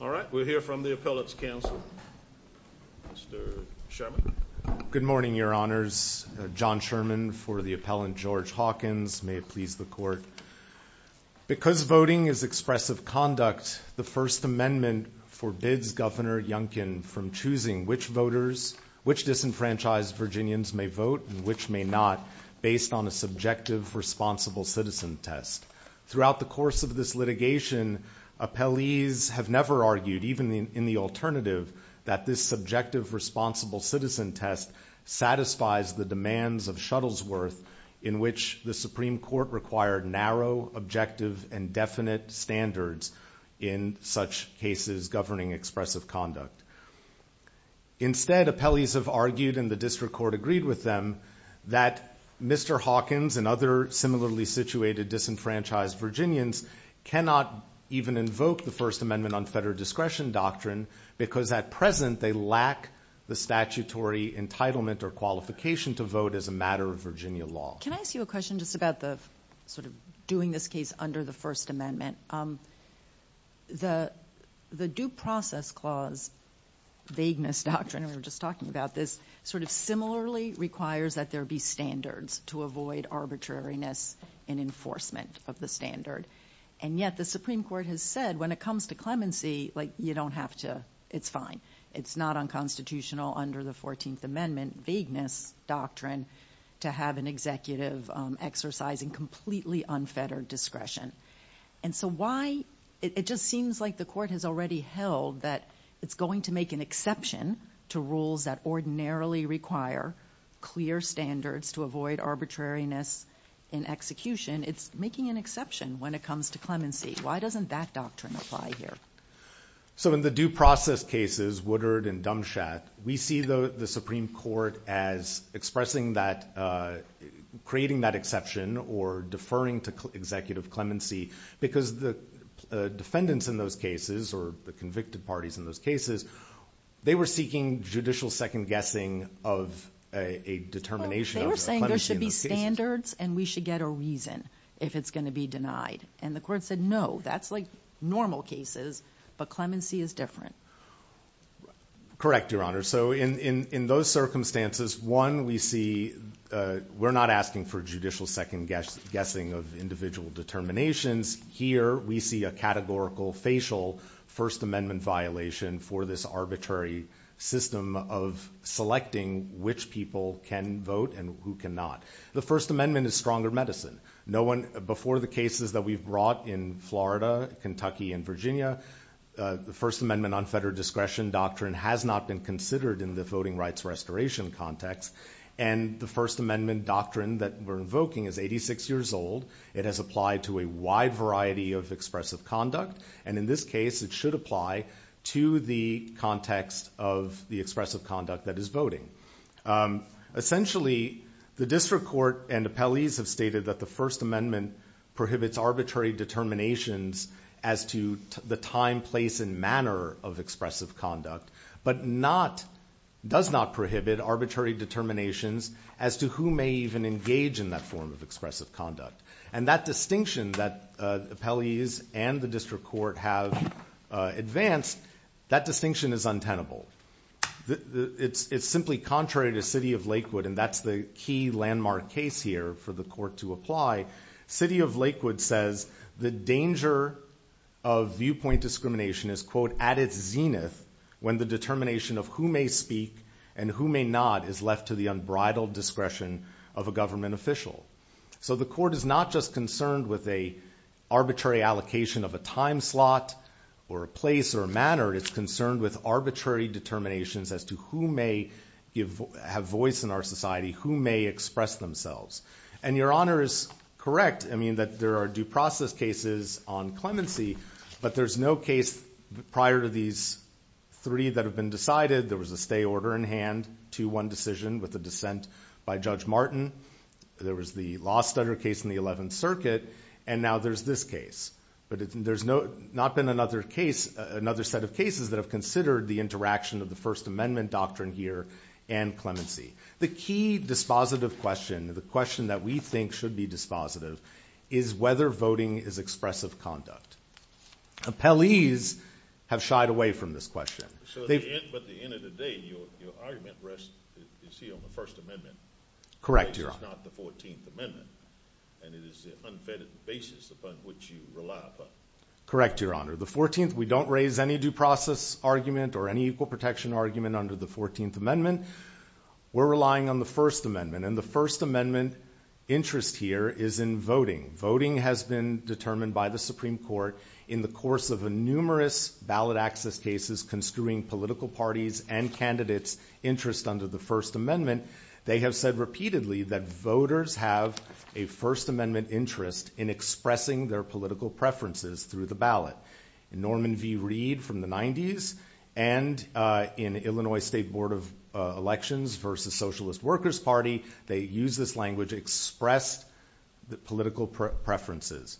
All right, we'll hear from the Appellate's counsel. Mr. Sherman. Good morning, Your Honors. John Sherman for the Appellant George Hawkins. May it please the Court. Because voting is expressive conduct, the First Amendment forbids Governor Youngkin from choosing which voters, which disenfranchised Virginians may vote and which may not, based on a subjective, responsible citizen test. Throughout the course of this litigation, appellees have never argued, even in the alternative, that this subjective, responsible citizen test satisfies the demands of Shuttlesworth in which the Supreme Court required narrow, objective, and definite standards in such cases governing expressive conduct. Instead, appellees have argued, and the District Court agreed with them, that Mr. Hawkins and other similarly situated disenfranchised Virginians cannot even invoke the First Amendment on Federal Discretion Doctrine because at present they lack the statutory entitlement or qualification to vote as a matter of Virginia law. Can I ask you a question just about doing this case under the First Amendment? The Due Process Clause, Vagueness Doctrine, and we were just talking about this, sort of similarly requires that there be standards to avoid arbitrariness in enforcement of the standard. And yet the Supreme Court has said when it comes to clemency, you don't have to, it's fine. It's not unconstitutional under the 14th Amendment, Vagueness Doctrine, to have an executive exercising completely unfettered discretion. And so why, it just seems like the Court has already held that it's going to make an exception to rules that ordinarily require clear standards to avoid arbitrariness in execution. It's making an exception when it comes to clemency. Why doesn't that doctrine apply here? So in the due process cases, Woodard and Dumchat, we see the Supreme Court as expressing that, creating that exception or deferring to executive clemency, because the defendants in those cases or the convicted parties in those cases, they were seeking judicial second-guessing of a determination of their clemency in those cases. They were saying there should be standards and we should get a reason if it's going to be denied. And the Court said, no, that's like normal cases, but clemency is different. Correct, Your Honor. So in those circumstances, one, we see, we're not asking for judicial second-guessing of individual determinations. Here, we see a categorical facial First Amendment violation for this arbitrary system of selecting which people can vote and who cannot. The First Amendment is stronger medicine. Before the cases that we've brought in Florida, Kentucky, and Virginia, the First Amendment on federal discretion doctrine has not been considered in the voting rights restoration context. And the First Amendment doctrine that we're invoking is 86 years old. It has applied to a wide variety of expressive conduct. And in this case, it should apply to the context of the expressive conduct that is voting. Essentially, the district court and appellees have stated that the First Amendment prohibits arbitrary determinations as to the time, place, and manner of expressive conduct, but does not prohibit arbitrary determinations as to who may even engage in that form of expressive conduct. And that distinction that appellees and the district court have advanced, that distinction is untenable. It's simply contrary to city of Lakewood, and that's the key landmark case here for the court to apply. City of Lakewood says the danger of viewpoint discrimination is, quote, at its zenith when the determination of who may speak and who may not is left to the unbridled discretion of a government official. So the court is not just concerned with an arbitrary allocation of a time slot or a place or a manner. It's concerned with arbitrary determinations as to who may have voice in our society, who may express themselves. And Your Honor is correct, I mean, that there are due process cases on clemency, but there's no case prior to these three that have been decided. There was a stay order in hand to one decision with a dissent by Judge Martin. There was the law stutter case in the 11th Circuit, and now there's this case. But there's not been another set of cases that have considered the interaction of the First Amendment doctrine here and clemency. The key dispositive question, the question that we think should be dispositive, is whether voting is expressive conduct. Appellees have shied away from this question. But at the end of the day, your argument rests, you see, on the First Amendment. Correct, Your Honor. It's not the 14th Amendment, and it is the unfettered basis upon which you rely. Correct, Your Honor. The 14th, we don't raise any due process argument or any equal protection argument under the 14th Amendment. We're relying on the First Amendment, and the First Amendment interest here is in voting. Voting has been determined by the Supreme Court in the course of numerous ballot access cases construing political parties' and candidates' interest under the First Amendment. They have said repeatedly that voters have a First Amendment interest in expressing their political preferences through the ballot. Norman V. Reed from the 90s and in Illinois State Board of Elections versus Socialist Workers Party, they used this language, expressed the political preferences.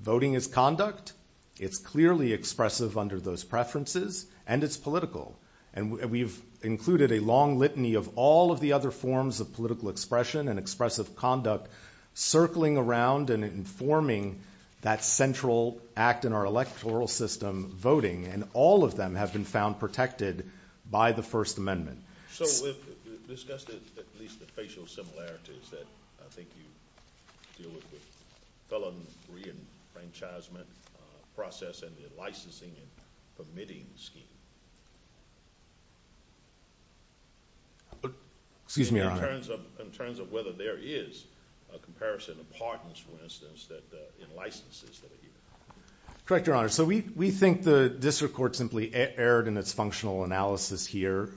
Voting is conduct. It's clearly expressive under those preferences, and it's political. And we've included a long litany of all of the other forms of political expression and expressive conduct circling around and informing that central act in our electoral system, voting. And all of them have been found protected by the First Amendment. So we've discussed at least the facial similarities that I think you deal with with the felony reenfranchisement process and the licensing and permitting scheme. Excuse me, Your Honor. In terms of whether there is a comparison of pardons, for instance, in licenses that are here. Correct, Your Honor. So we think the district court simply erred in its functional analysis here.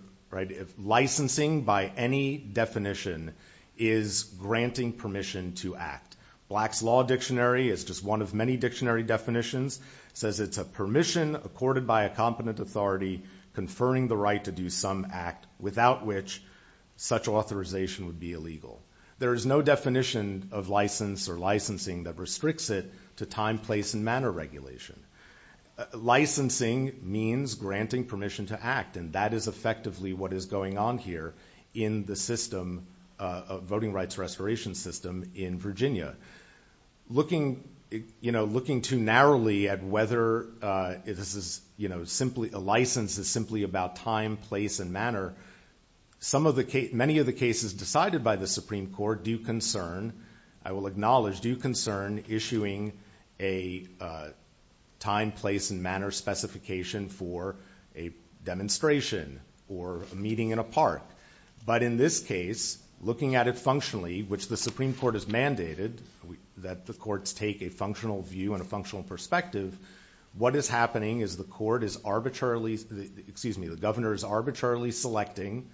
Licensing by any definition is granting permission to act. Black's Law Dictionary is just one of many dictionary definitions. It says it's a permission accorded by a competent authority conferring the right to do some act without which such authorization would be illegal. There is no definition of license or licensing that restricts it to time, place, and manner regulation. Licensing means granting permission to act, and that is effectively what is going on here in the voting rights restoration system in Virginia. Looking too narrowly at whether a license is simply about time, place, and manner, many of the cases decided by the Supreme Court do concern, I will acknowledge, do concern issuing a time, place, and manner specification for a demonstration or a meeting in a park. But in this case, looking at it functionally, which the Supreme Court has mandated that the courts take a functional view and a functional perspective, what is happening is the court is arbitrarily, excuse me, the governor is arbitrarily selecting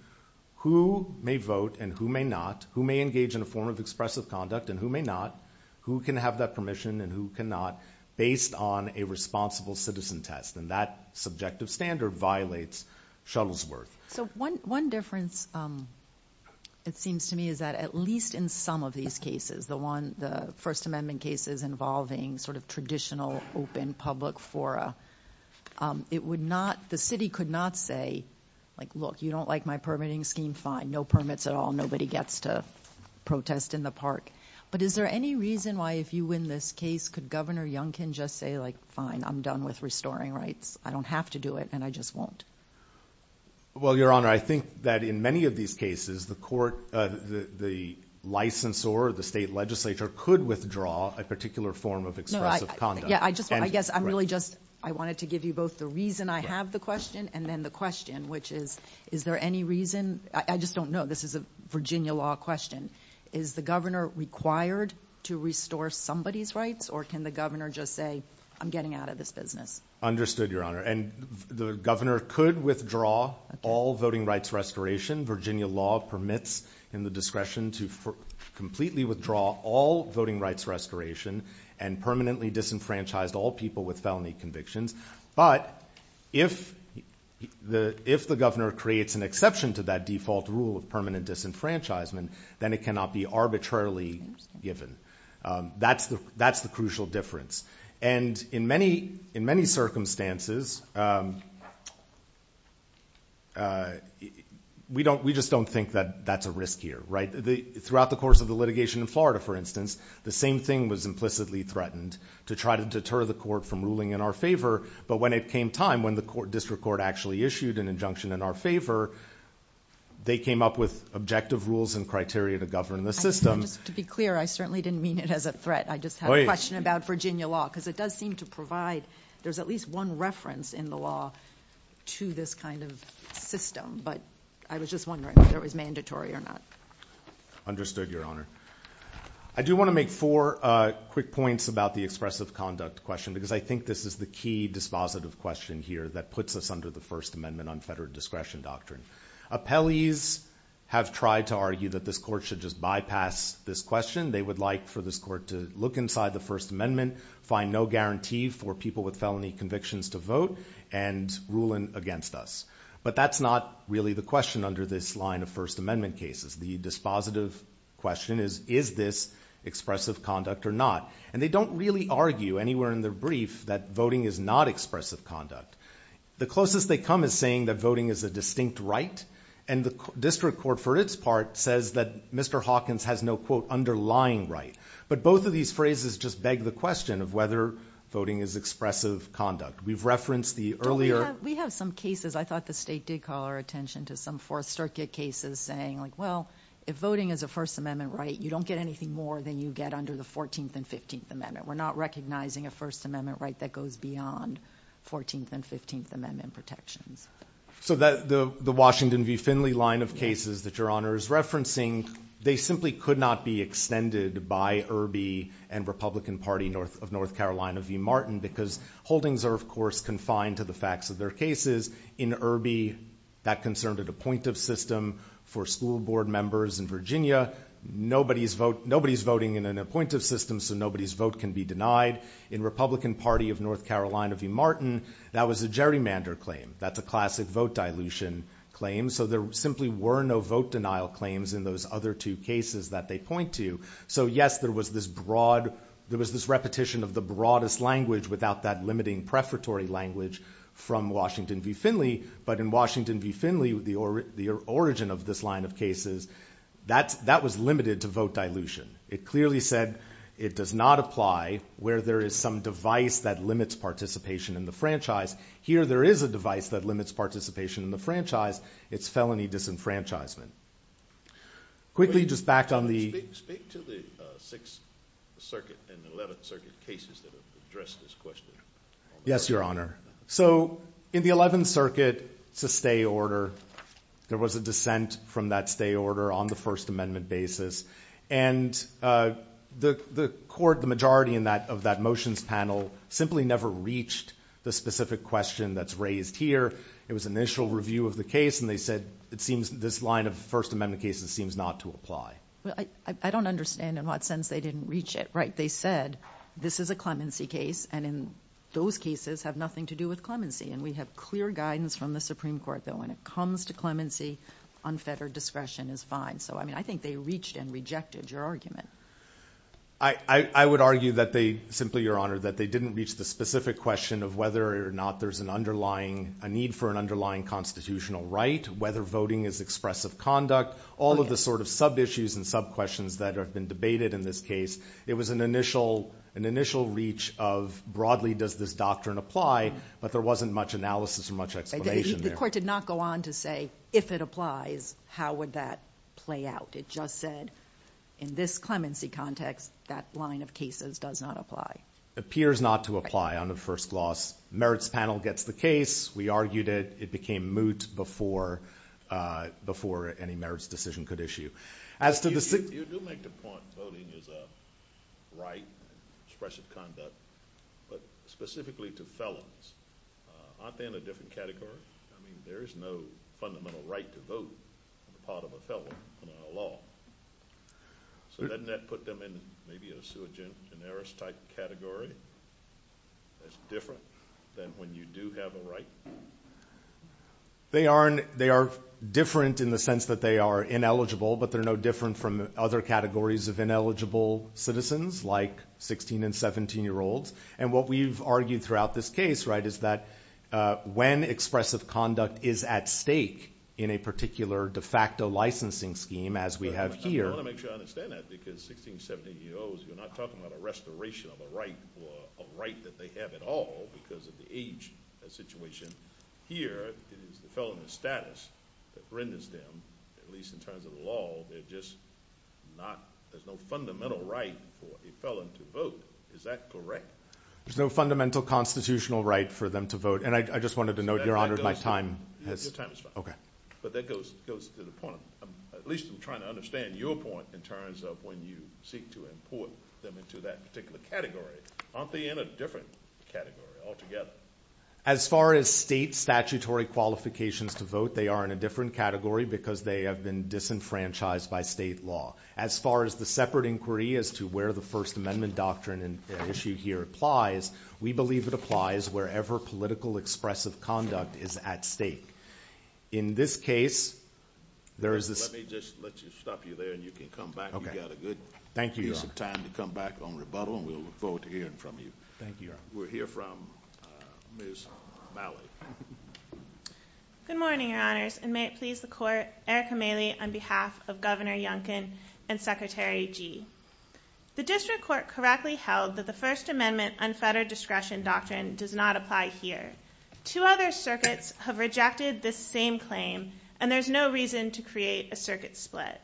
who may vote and who may not, who may engage in a form of expressive conduct and who may not, who can have that permission and who cannot based on a responsible citizen test. And that subjective standard violates Shuttlesworth. So one difference, it seems to me, is that at least in some of these cases, the First Amendment cases involving sort of traditional open public fora, it would not, the city could not say, like, look, you don't like my permitting scheme, fine, no permits at all, nobody gets to protest in the park. But is there any reason why if you win this case, could Governor Youngkin just say, like, fine, I'm done with restoring rights, I don't have to do it and I just won't? Well, Your Honor, I think that in many of these cases, the court, the licensor, the state legislature could withdraw a particular form of expressive conduct. Yeah, I guess I'm really just, I wanted to give you both the reason I have the question and then the question, which is, is there any reason, I just don't know, this is a Virginia law question, is the governor required to restore somebody's rights or can the governor just say, I'm getting out of this business? Understood, Your Honor. And the governor could withdraw all voting rights restoration. Virginia law permits in the discretion to completely withdraw all voting rights restoration and permanently disenfranchise all people with felony convictions. But if the governor creates an exception to that default rule of permanent disenfranchisement, then it cannot be arbitrarily given. That's the crucial difference. And in many circumstances, we just don't think that that's a risk here, right? Throughout the course of the litigation in Florida, for instance, the same thing was implicitly threatened, to try to deter the court from ruling in our favor, but when it came time, when the district court actually issued an injunction in our favor, they came up with objective rules and criteria to govern the system. Just to be clear, I certainly didn't mean it as a threat. I just have a question about Virginia law because it does seem to provide, there's at least one reference in the law to this kind of system, but I was just wondering whether it was mandatory or not. Understood, Your Honor. I do want to make four quick points about the expressive conduct question because I think this is the key dispositive question here that puts us under the First Amendment unfettered discretion doctrine. Appellees have tried to argue that this court should just bypass this question. They would like for this court to look inside the First Amendment, find no guarantee for people with felony convictions to vote, and rule against us. But that's not really the question under this line of First Amendment cases. The dispositive question is, is this expressive conduct or not? And they don't really argue anywhere in their brief that voting is not expressive conduct. The closest they come is saying that voting is a distinct right, and the district court for its part says that Mr. Hawkins has no, quote, underlying right. But both of these phrases just beg the question of whether voting is expressive conduct. We've referenced the earlier— We have some cases. I thought the state did call our attention to some Fourth Circuit cases saying, well, if voting is a First Amendment right, you don't get anything more than you get under the 14th and 15th Amendment. We're not recognizing a First Amendment right that goes beyond 14th and 15th Amendment protections. So the Washington v. Finley line of cases that Your Honor is referencing, they simply could not be extended by Irby and Republican Party of North Carolina v. Martin because holdings are, of course, confined to the facts of their cases. In Irby, that concerned an appointive system for school board members. In Virginia, nobody's voting in an appointive system, so nobody's vote can be denied. In Republican Party of North Carolina v. Martin, that was a gerrymander claim. That's a classic vote dilution claim. So there simply were no vote denial claims in those other two cases that they point to. So, yes, there was this repetition of the broadest language without that limiting prefatory language from Washington v. Finley. But in Washington v. Finley, the origin of this line of cases, that was limited to vote dilution. It clearly said it does not apply where there is some device that limits participation in the franchise. Here there is a device that limits participation in the franchise. It's felony disenfranchisement. Quickly, just back on the- Speak to the 6th Circuit and 11th Circuit cases that have addressed this question. Yes, Your Honor. So in the 11th Circuit, it's a stay order. There was a dissent from that stay order on the First Amendment basis. And the court, the majority of that motions panel, simply never reached the specific question that's raised here. It was an initial review of the case, and they said this line of First Amendment cases seems not to apply. I don't understand in what sense they didn't reach it, right? They said this is a clemency case, and in those cases have nothing to do with clemency. And we have clear guidance from the Supreme Court that when it comes to clemency, unfettered discretion is fine. So, I mean, I think they reached and rejected your argument. I would argue that they simply, Your Honor, that they didn't reach the specific question of whether or not there's an underlying- a need for an underlying constitutional right, whether voting is expressive conduct, all of the sort of sub-issues and sub-questions that have been debated in this case. It was an initial reach of, broadly, does this doctrine apply? But there wasn't much analysis or much explanation there. The court did not go on to say, if it applies, how would that play out? It just said, in this clemency context, that line of cases does not apply. Appears not to apply on the first gloss. Merits panel gets the case. We argued it. It became moot before any merits decision could issue. As to the- You do make the point voting is a right, expressive conduct. But specifically to felons, aren't they in a different category? I mean, there is no fundamental right to vote on the part of a felon in our law. So doesn't that put them in maybe a sui generis-type category that's different than when you do have a right? They are different in the sense that they are ineligible, but they're no different from other categories of ineligible citizens, like 16- and 17-year-olds. And what we've argued throughout this case is that when expressive conduct is at stake in a particular de facto licensing scheme, as we have here- I want to make sure I understand that, because 16, 17-year-olds, you're not talking about a restoration of a right or a right that they have at all because of the age situation. Here, it is the felon's status that renders them, at least in terms of the law, they're just not- there's no fundamental right for a felon to vote. Is that correct? There's no fundamental constitutional right for them to vote. And I just wanted to note, Your Honor, my time has- Your time is fine. Okay. But that goes to the point. At least I'm trying to understand your point in terms of when you seek to import them into that particular category. Aren't they in a different category altogether? As far as state statutory qualifications to vote, they are in a different category because they have been disenfranchised by state law. As far as the separate inquiry as to where the First Amendment doctrine and issue here applies, we believe it applies wherever political expressive conduct is at stake. In this case, there is this- Let me just let you stop you there and you can come back. Okay. You've got a good- Thank you, Your Honor. piece of time to come back on rebuttal and we'll look forward to hearing from you. Thank you, Your Honor. We'll hear from Ms. Malley. Good morning, Your Honors, and may it please the Court, Erica Malley on behalf of Governor Yunkin and Secretary Gee. The district court correctly held that the First Amendment unfettered discretion doctrine does not apply here. Two other circuits have rejected this same claim, and there's no reason to create a circuit split.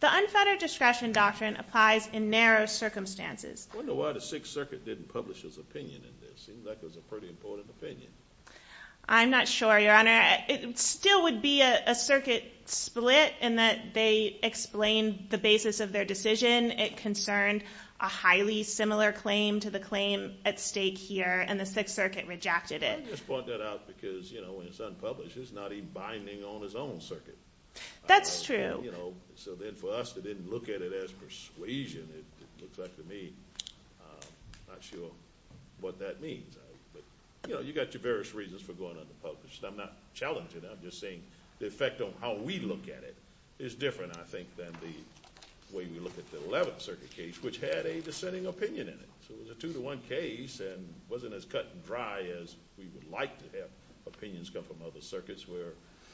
The unfettered discretion doctrine applies in narrow circumstances. I wonder why the Sixth Circuit didn't publish its opinion in this. It seems like it was a pretty important opinion. I'm not sure, Your Honor. It still would be a circuit split in that they explained the basis of their decision. It concerned a highly similar claim to the claim at stake here, and the Sixth Circuit rejected it. I just point that out because, you know, when it's unpublished, it's not even binding on its own circuit. That's true. You know, so then for us to then look at it as persuasion, it looks like to me, I'm not sure what that means. But, you know, you've got your various reasons for going unpublished. I'm not challenging it. I'm just saying the effect on how we look at it is different, I think, than the way we look at the Eleventh Circuit case, which had a dissenting opinion in it. So it was a two-to-one case and wasn't as cut and dry as we would like to have opinions come from other circuits, where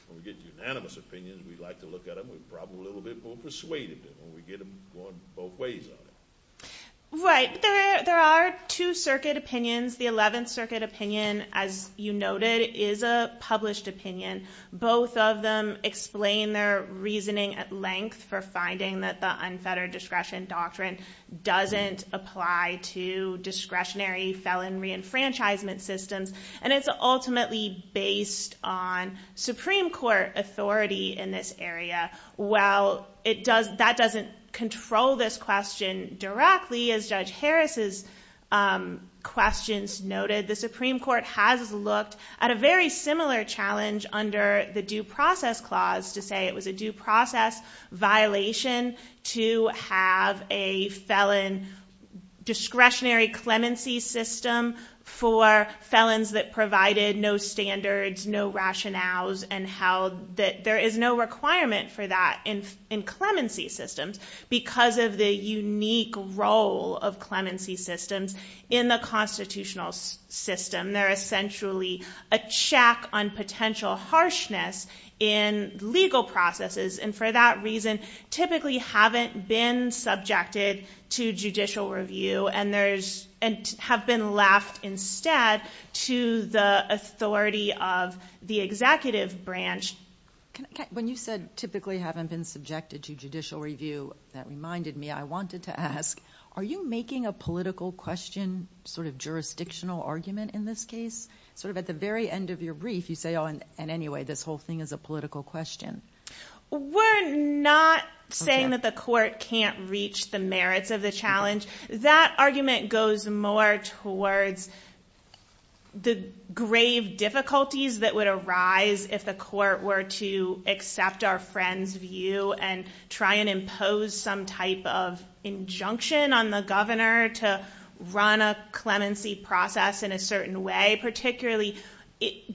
when we get unanimous opinions, we like to look at them. We're probably a little bit more persuaded when we get them going both ways on it. Right. There are two circuit opinions. The Eleventh Circuit opinion, as you noted, is a published opinion. Both of them explain their reasoning at length for finding that the unfettered discretion doctrine doesn't apply to discretionary felon reenfranchisement systems, and it's ultimately based on Supreme Court authority in this area. While that doesn't control this question directly, as Judge Harris's questions noted, the Supreme Court has looked at a very similar challenge under the Due Process Clause, to say it was a due process violation to have a felon discretionary clemency system for felons that provided no standards, no rationales, and there is no requirement for that in clemency systems, because of the unique role of clemency systems in the constitutional system. They're essentially a check on potential harshness in legal processes, and for that reason typically haven't been subjected to judicial review, and have been left instead to the authority of the executive branch. When you said typically haven't been subjected to judicial review, that reminded me, I wanted to ask, are you making a political question, sort of jurisdictional argument in this case? Sort of at the very end of your brief, you say, oh, and anyway, this whole thing is a political question. We're not saying that the court can't reach the merits of the challenge. That argument goes more towards the grave difficulties that would arise if the court were to accept our friend's view, and try and impose some type of injunction on the governor to run a clemency process in a certain way,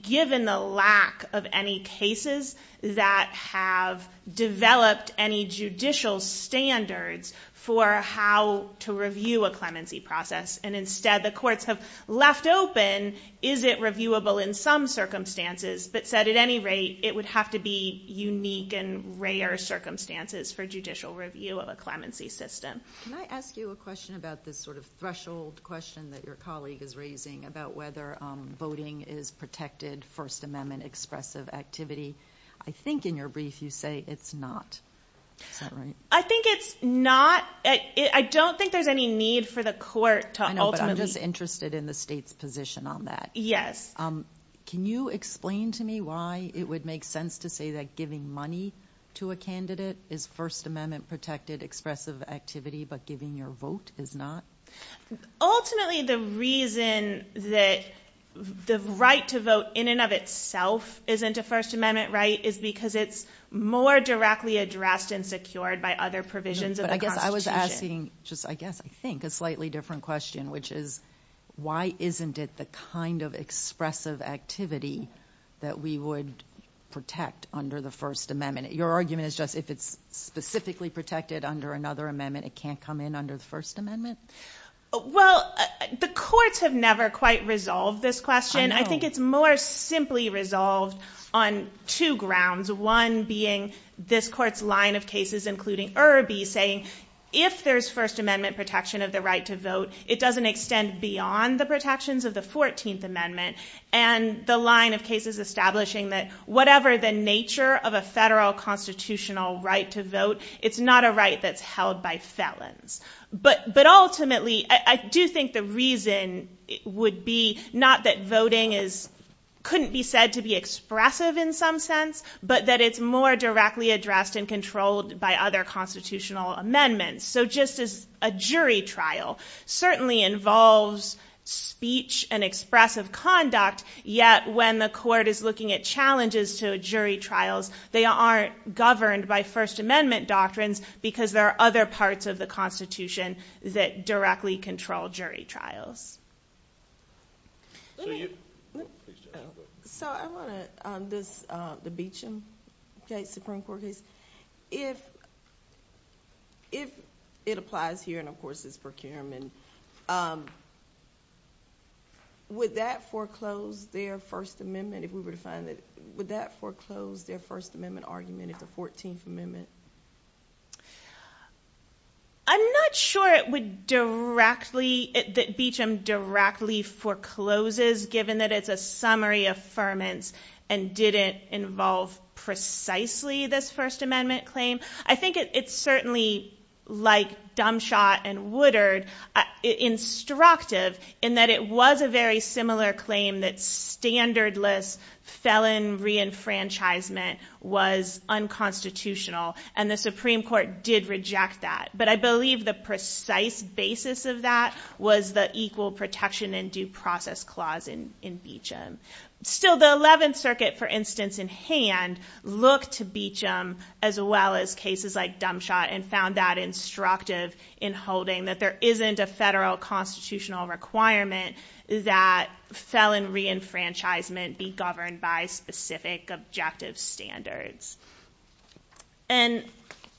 given the lack of any cases that have developed any judicial standards for how to review a clemency process, and instead the courts have left open, is it reviewable in some circumstances, but said at any rate, it would have to be unique and rare circumstances for judicial review of a clemency system. Can I ask you a question about this sort of threshold question that your colleague is raising, about whether voting is protected First Amendment expressive activity? I think in your brief you say it's not. Is that right? I think it's not. I don't think there's any need for the court to ultimately I know, but I'm just interested in the state's position on that. Yes. Can you explain to me why it would make sense to say that giving money to a candidate is First Amendment protected expressive activity, but giving your vote is not? Ultimately, the reason that the right to vote in and of itself isn't a First Amendment right is because it's more directly addressed and secured by other provisions of the Constitution. But I guess I was asking just, I guess, I think a slightly different question, which is why isn't it the kind of expressive activity that we would protect under the First Amendment? Your argument is just if it's specifically protected under another amendment, it can't come in under the First Amendment? Well, the courts have never quite resolved this question. I think it's more simply resolved on two grounds, one being this court's line of cases, including Irby, saying if there's First Amendment protection of the right to vote, it doesn't extend beyond the protections of the 14th Amendment, and the line of cases establishing that whatever the nature of a federal constitutional right to vote, it's not a right that's held by felons. But ultimately, I do think the reason would be not that voting couldn't be said to be expressive in some sense, but that it's more directly addressed and controlled by other constitutional amendments. So just as a jury trial certainly involves speech and expressive conduct, yet when the court is looking at challenges to jury trials, they aren't governed by First Amendment doctrines because there are other parts of the Constitution that directly control jury trials. So I want to, on this, the Beecham case, Supreme Court case, if it applies here, and of course it's procurement, would that foreclose their First Amendment if we were to find that, would that foreclose their First Amendment argument if the 14th Amendment? I'm not sure it would directly, that Beecham directly forecloses, given that it's a summary affirmance and didn't involve precisely this First Amendment claim. I think it's certainly, like Dumbshot and Woodard, instructive in that it was a very similar claim that standardless felon reenfranchisement was unconstitutional. And the Supreme Court did reject that. But I believe the precise basis of that was the Equal Protection and Due Process Clause in Beecham. Still, the 11th Circuit, for instance, in hand, looked to Beecham as well as cases like Dumbshot and found that instructive in holding that there isn't a federal constitutional requirement that felon reenfranchisement be governed by specific objective standards. And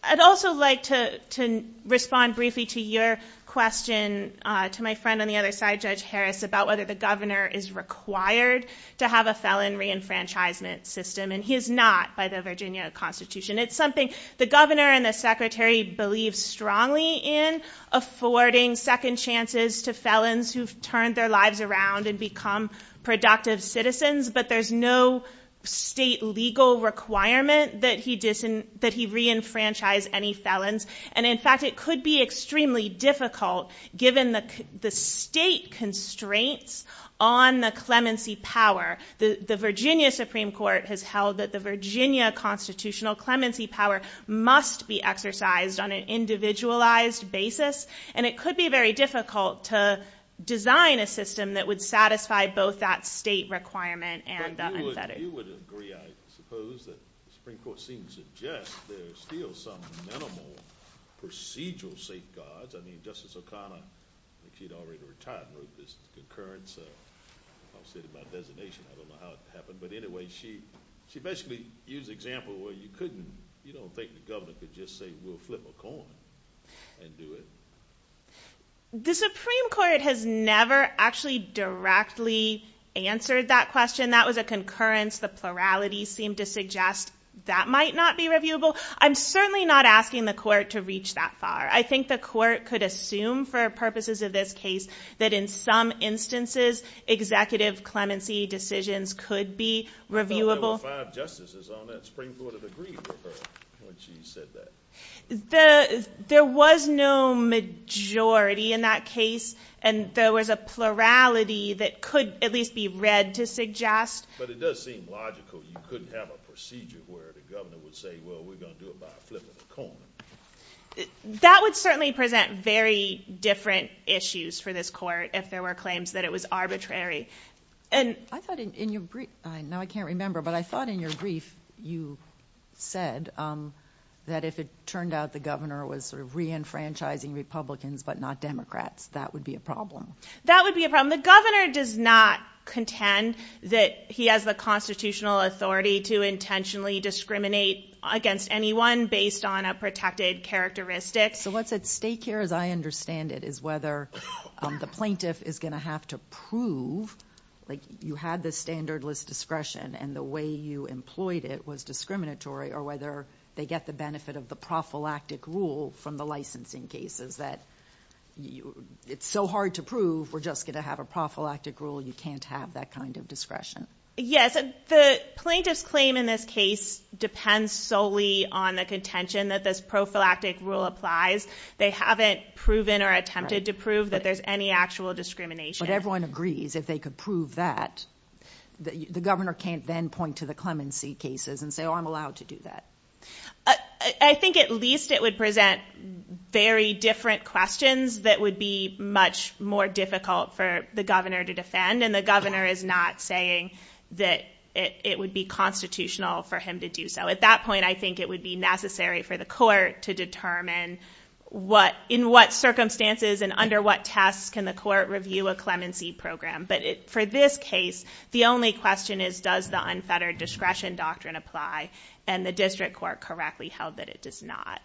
I'd also like to respond briefly to your question to my friend on the other side, Judge Harris, about whether the governor is required to have a felon reenfranchisement system. And he is not by the Virginia Constitution. It's something the governor and the secretary believe strongly in, affording second chances to felons who've turned their lives around and become productive citizens. But there's no state legal requirement that he reenfranchise any felons. And in fact, it could be extremely difficult, given the state constraints on the clemency power. The Virginia Supreme Court has held that the Virginia constitutional clemency power must be exercised on an individualized basis. And it could be very difficult to design a system that would satisfy both that state requirement and the unfettered. But you would agree, I suppose, that the Supreme Court seems to suggest there's still some minimal procedural safeguards. I mean, Justice O'Connor, if she'd already retired and wrote this concurrence, I'll say it about designation. I don't know how it happened. But anyway, she basically used an example where you don't think the governor could just say, we'll flip a coin and do it. The Supreme Court has never actually directly answered that question. That was a concurrence. The plurality seemed to suggest that might not be reviewable. I'm certainly not asking the court to reach that far. I think the court could assume, for purposes of this case, that in some instances, executive clemency decisions could be reviewable. I thought there were five justices on that. The Supreme Court had agreed with her when she said that. There was no majority in that case. And there was a plurality that could at least be read to suggest. But it does seem logical. You couldn't have a procedure where the governor would say, well, we're going to do it by flipping a coin. That would certainly present very different issues for this court, if there were claims that it was arbitrary. I thought in your brief, now I can't remember, but I thought in your brief, you said that if it turned out the governor was re-enfranchising Republicans but not Democrats, that would be a problem. That would be a problem. The governor does not contend that he has the constitutional authority to intentionally discriminate against anyone based on a protected characteristic. So what's at stake here, as I understand it, is whether the plaintiff is going to have to prove you had this standardless discretion and the way you employed it was discriminatory, or whether they get the benefit of the prophylactic rule from the licensing cases that it's so hard to prove we're just going to have a prophylactic rule, you can't have that kind of discretion. Yes, the plaintiff's claim in this case depends solely on the contention that this prophylactic rule applies. They haven't proven or attempted to prove that there's any actual discrimination. But everyone agrees if they could prove that, the governor can't then point to the clemency cases and say, oh, I'm allowed to do that. I think at least it would present very different questions that would be much more difficult for the governor to defend, and the governor is not saying that it would be constitutional for him to do so. At that point, I think it would be necessary for the court to determine in what circumstances and under what tests can the court review a clemency program. But for this case, the only question is does the unfettered discretion doctrine apply, and the district court correctly held that it does not.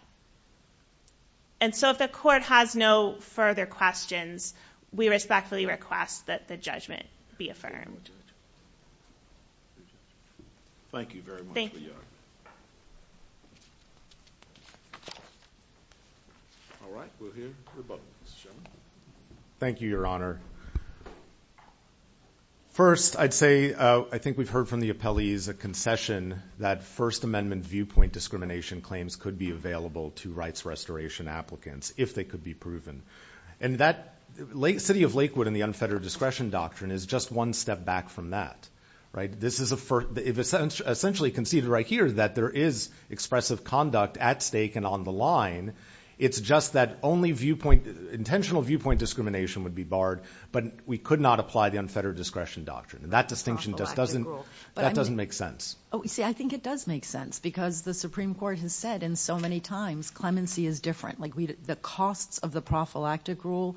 And so if the court has no further questions, we respectfully request that the judgment be affirmed. Thank you, Your Honor. First, I'd say I think we've heard from the appellees a concession that First Amendment viewpoint discrimination claims could be available to rights restoration applicants if they could be proven. And that city of Lakewood and the unfettered discretion doctrine is just one step back from that. This is essentially conceded right here that there is expressive conduct at stake and on the line. It's just that only intentional viewpoint discrimination would be barred, but we could not apply the unfettered discretion doctrine. That distinction just doesn't make sense. See, I think it does make sense because the Supreme Court has said in so many times clemency is different. The costs of the prophylactic rule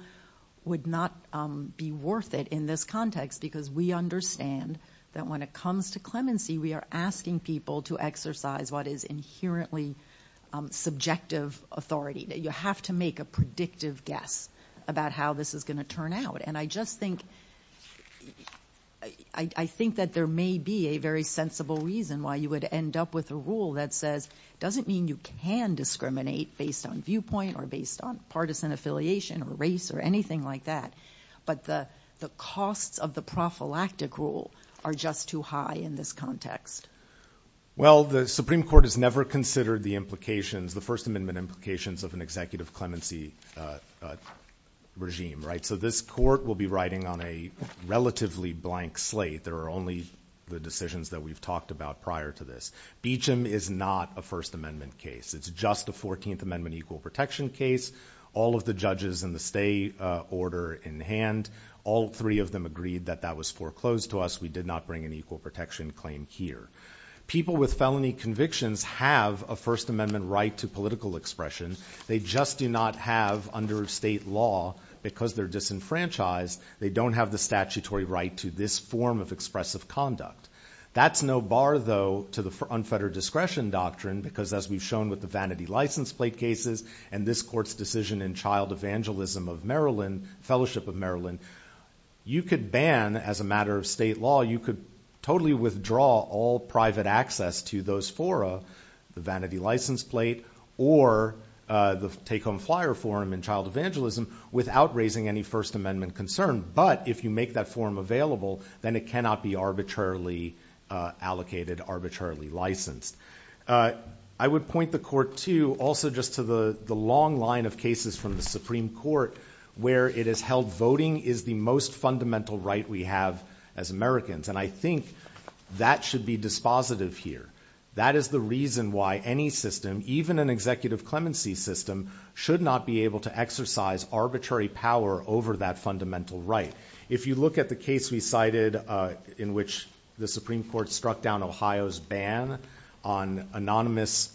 would not be worth it in this context because we understand that when it comes to clemency, we are asking people to exercise what is inherently subjective authority. You have to make a predictive guess about how this is going to turn out. And I just think that there may be a very sensible reason why you would end up with a rule that says it doesn't mean you can discriminate based on viewpoint or based on partisan affiliation or race or anything like that, but the costs of the prophylactic rule are just too high in this context. Well, the Supreme Court has never considered the implications, the First Amendment implications of an executive clemency regime. So this court will be writing on a relatively blank slate. There are only the decisions that we've talked about prior to this. Beecham is not a First Amendment case. It's just a 14th Amendment equal protection case. All of the judges in the state order in hand, all three of them agreed that that was foreclosed to us. We did not bring an equal protection claim here. People with felony convictions have a First Amendment right to political expression. They just do not have under state law, because they're disenfranchised, they don't have the statutory right to this form of expressive conduct. That's no bar, though, to the unfettered discretion doctrine, because as we've shown with the vanity license plate cases and this court's decision in Child Evangelism of Maryland, Fellowship of Maryland, you could ban, as a matter of state law, you could totally withdraw all private access to those fora, the vanity license plate, or the take-home flyer forum in Child Evangelism without raising any First Amendment concern. But if you make that forum available, then it cannot be arbitrarily allocated, arbitrarily licensed. I would point the court, too, also just to the long line of cases from the Supreme Court where it is held voting is the most fundamental right we have as Americans, and I think that should be dispositive here. That is the reason why any system, even an executive clemency system, should not be able to exercise arbitrary power over that fundamental right. If you look at the case we cited in which the Supreme Court struck down Ohio's ban on anonymous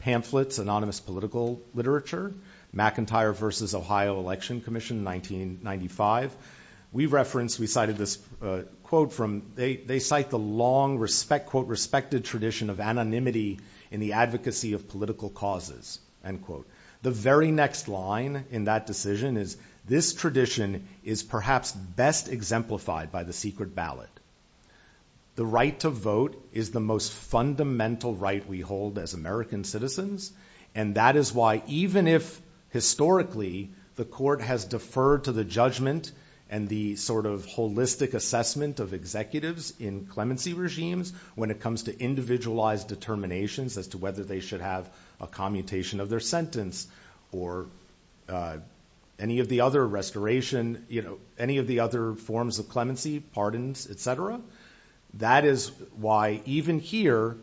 pamphlets, anonymous political literature, McIntyre v. Ohio Election Commission, 1995, we referenced, we cited this quote from, they cite the long, quote, respected tradition of anonymity in the advocacy of political causes, end quote. The very next line in that decision is, this tradition is perhaps best exemplified by the secret ballot. The right to vote is the most fundamental right we hold as American citizens, and that is why even if historically the court has deferred to the judgment and the sort of holistic assessment of executives in clemency regimes when it comes to individualized determinations as to whether they should have a commutation of their sentence or any of the other restoration, any of the other forms of clemency, pardons, et cetera, that is why even here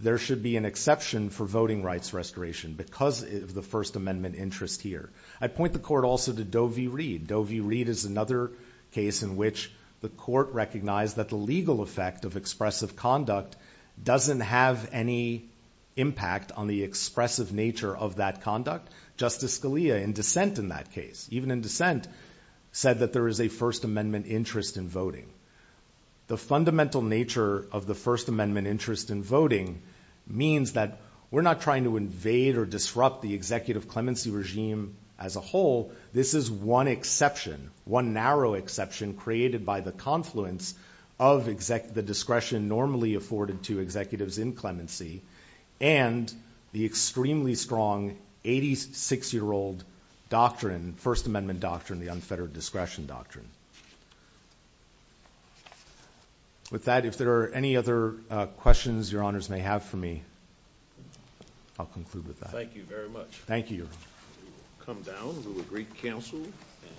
there should be an exception for voting rights restoration because of the First Amendment interest here. I point the court also to Doe v. Reed. Doe v. Reed is another case in which the court recognized that the legal effect of expressive conduct doesn't have any impact on the expressive nature of that conduct. Justice Scalia in dissent in that case, even in dissent, said that there is a First Amendment interest in voting. The fundamental nature of the First Amendment interest in voting means that we're not trying to invade or disrupt the executive clemency regime as a whole. This is one exception, one narrow exception created by the confluence of the discretion normally afforded to executives in clemency and the extremely strong 86-year-old doctrine, First Amendment doctrine, the unfettered discretion doctrine. With that, if there are any other questions Your Honors may have for me, I'll conclude with that. Thank you very much. Thank you, Your Honor. We will come down. We will greet counsel.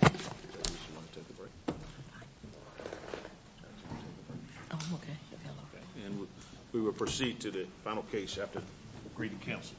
Thank you. We will proceed to the final case after greeting counsel.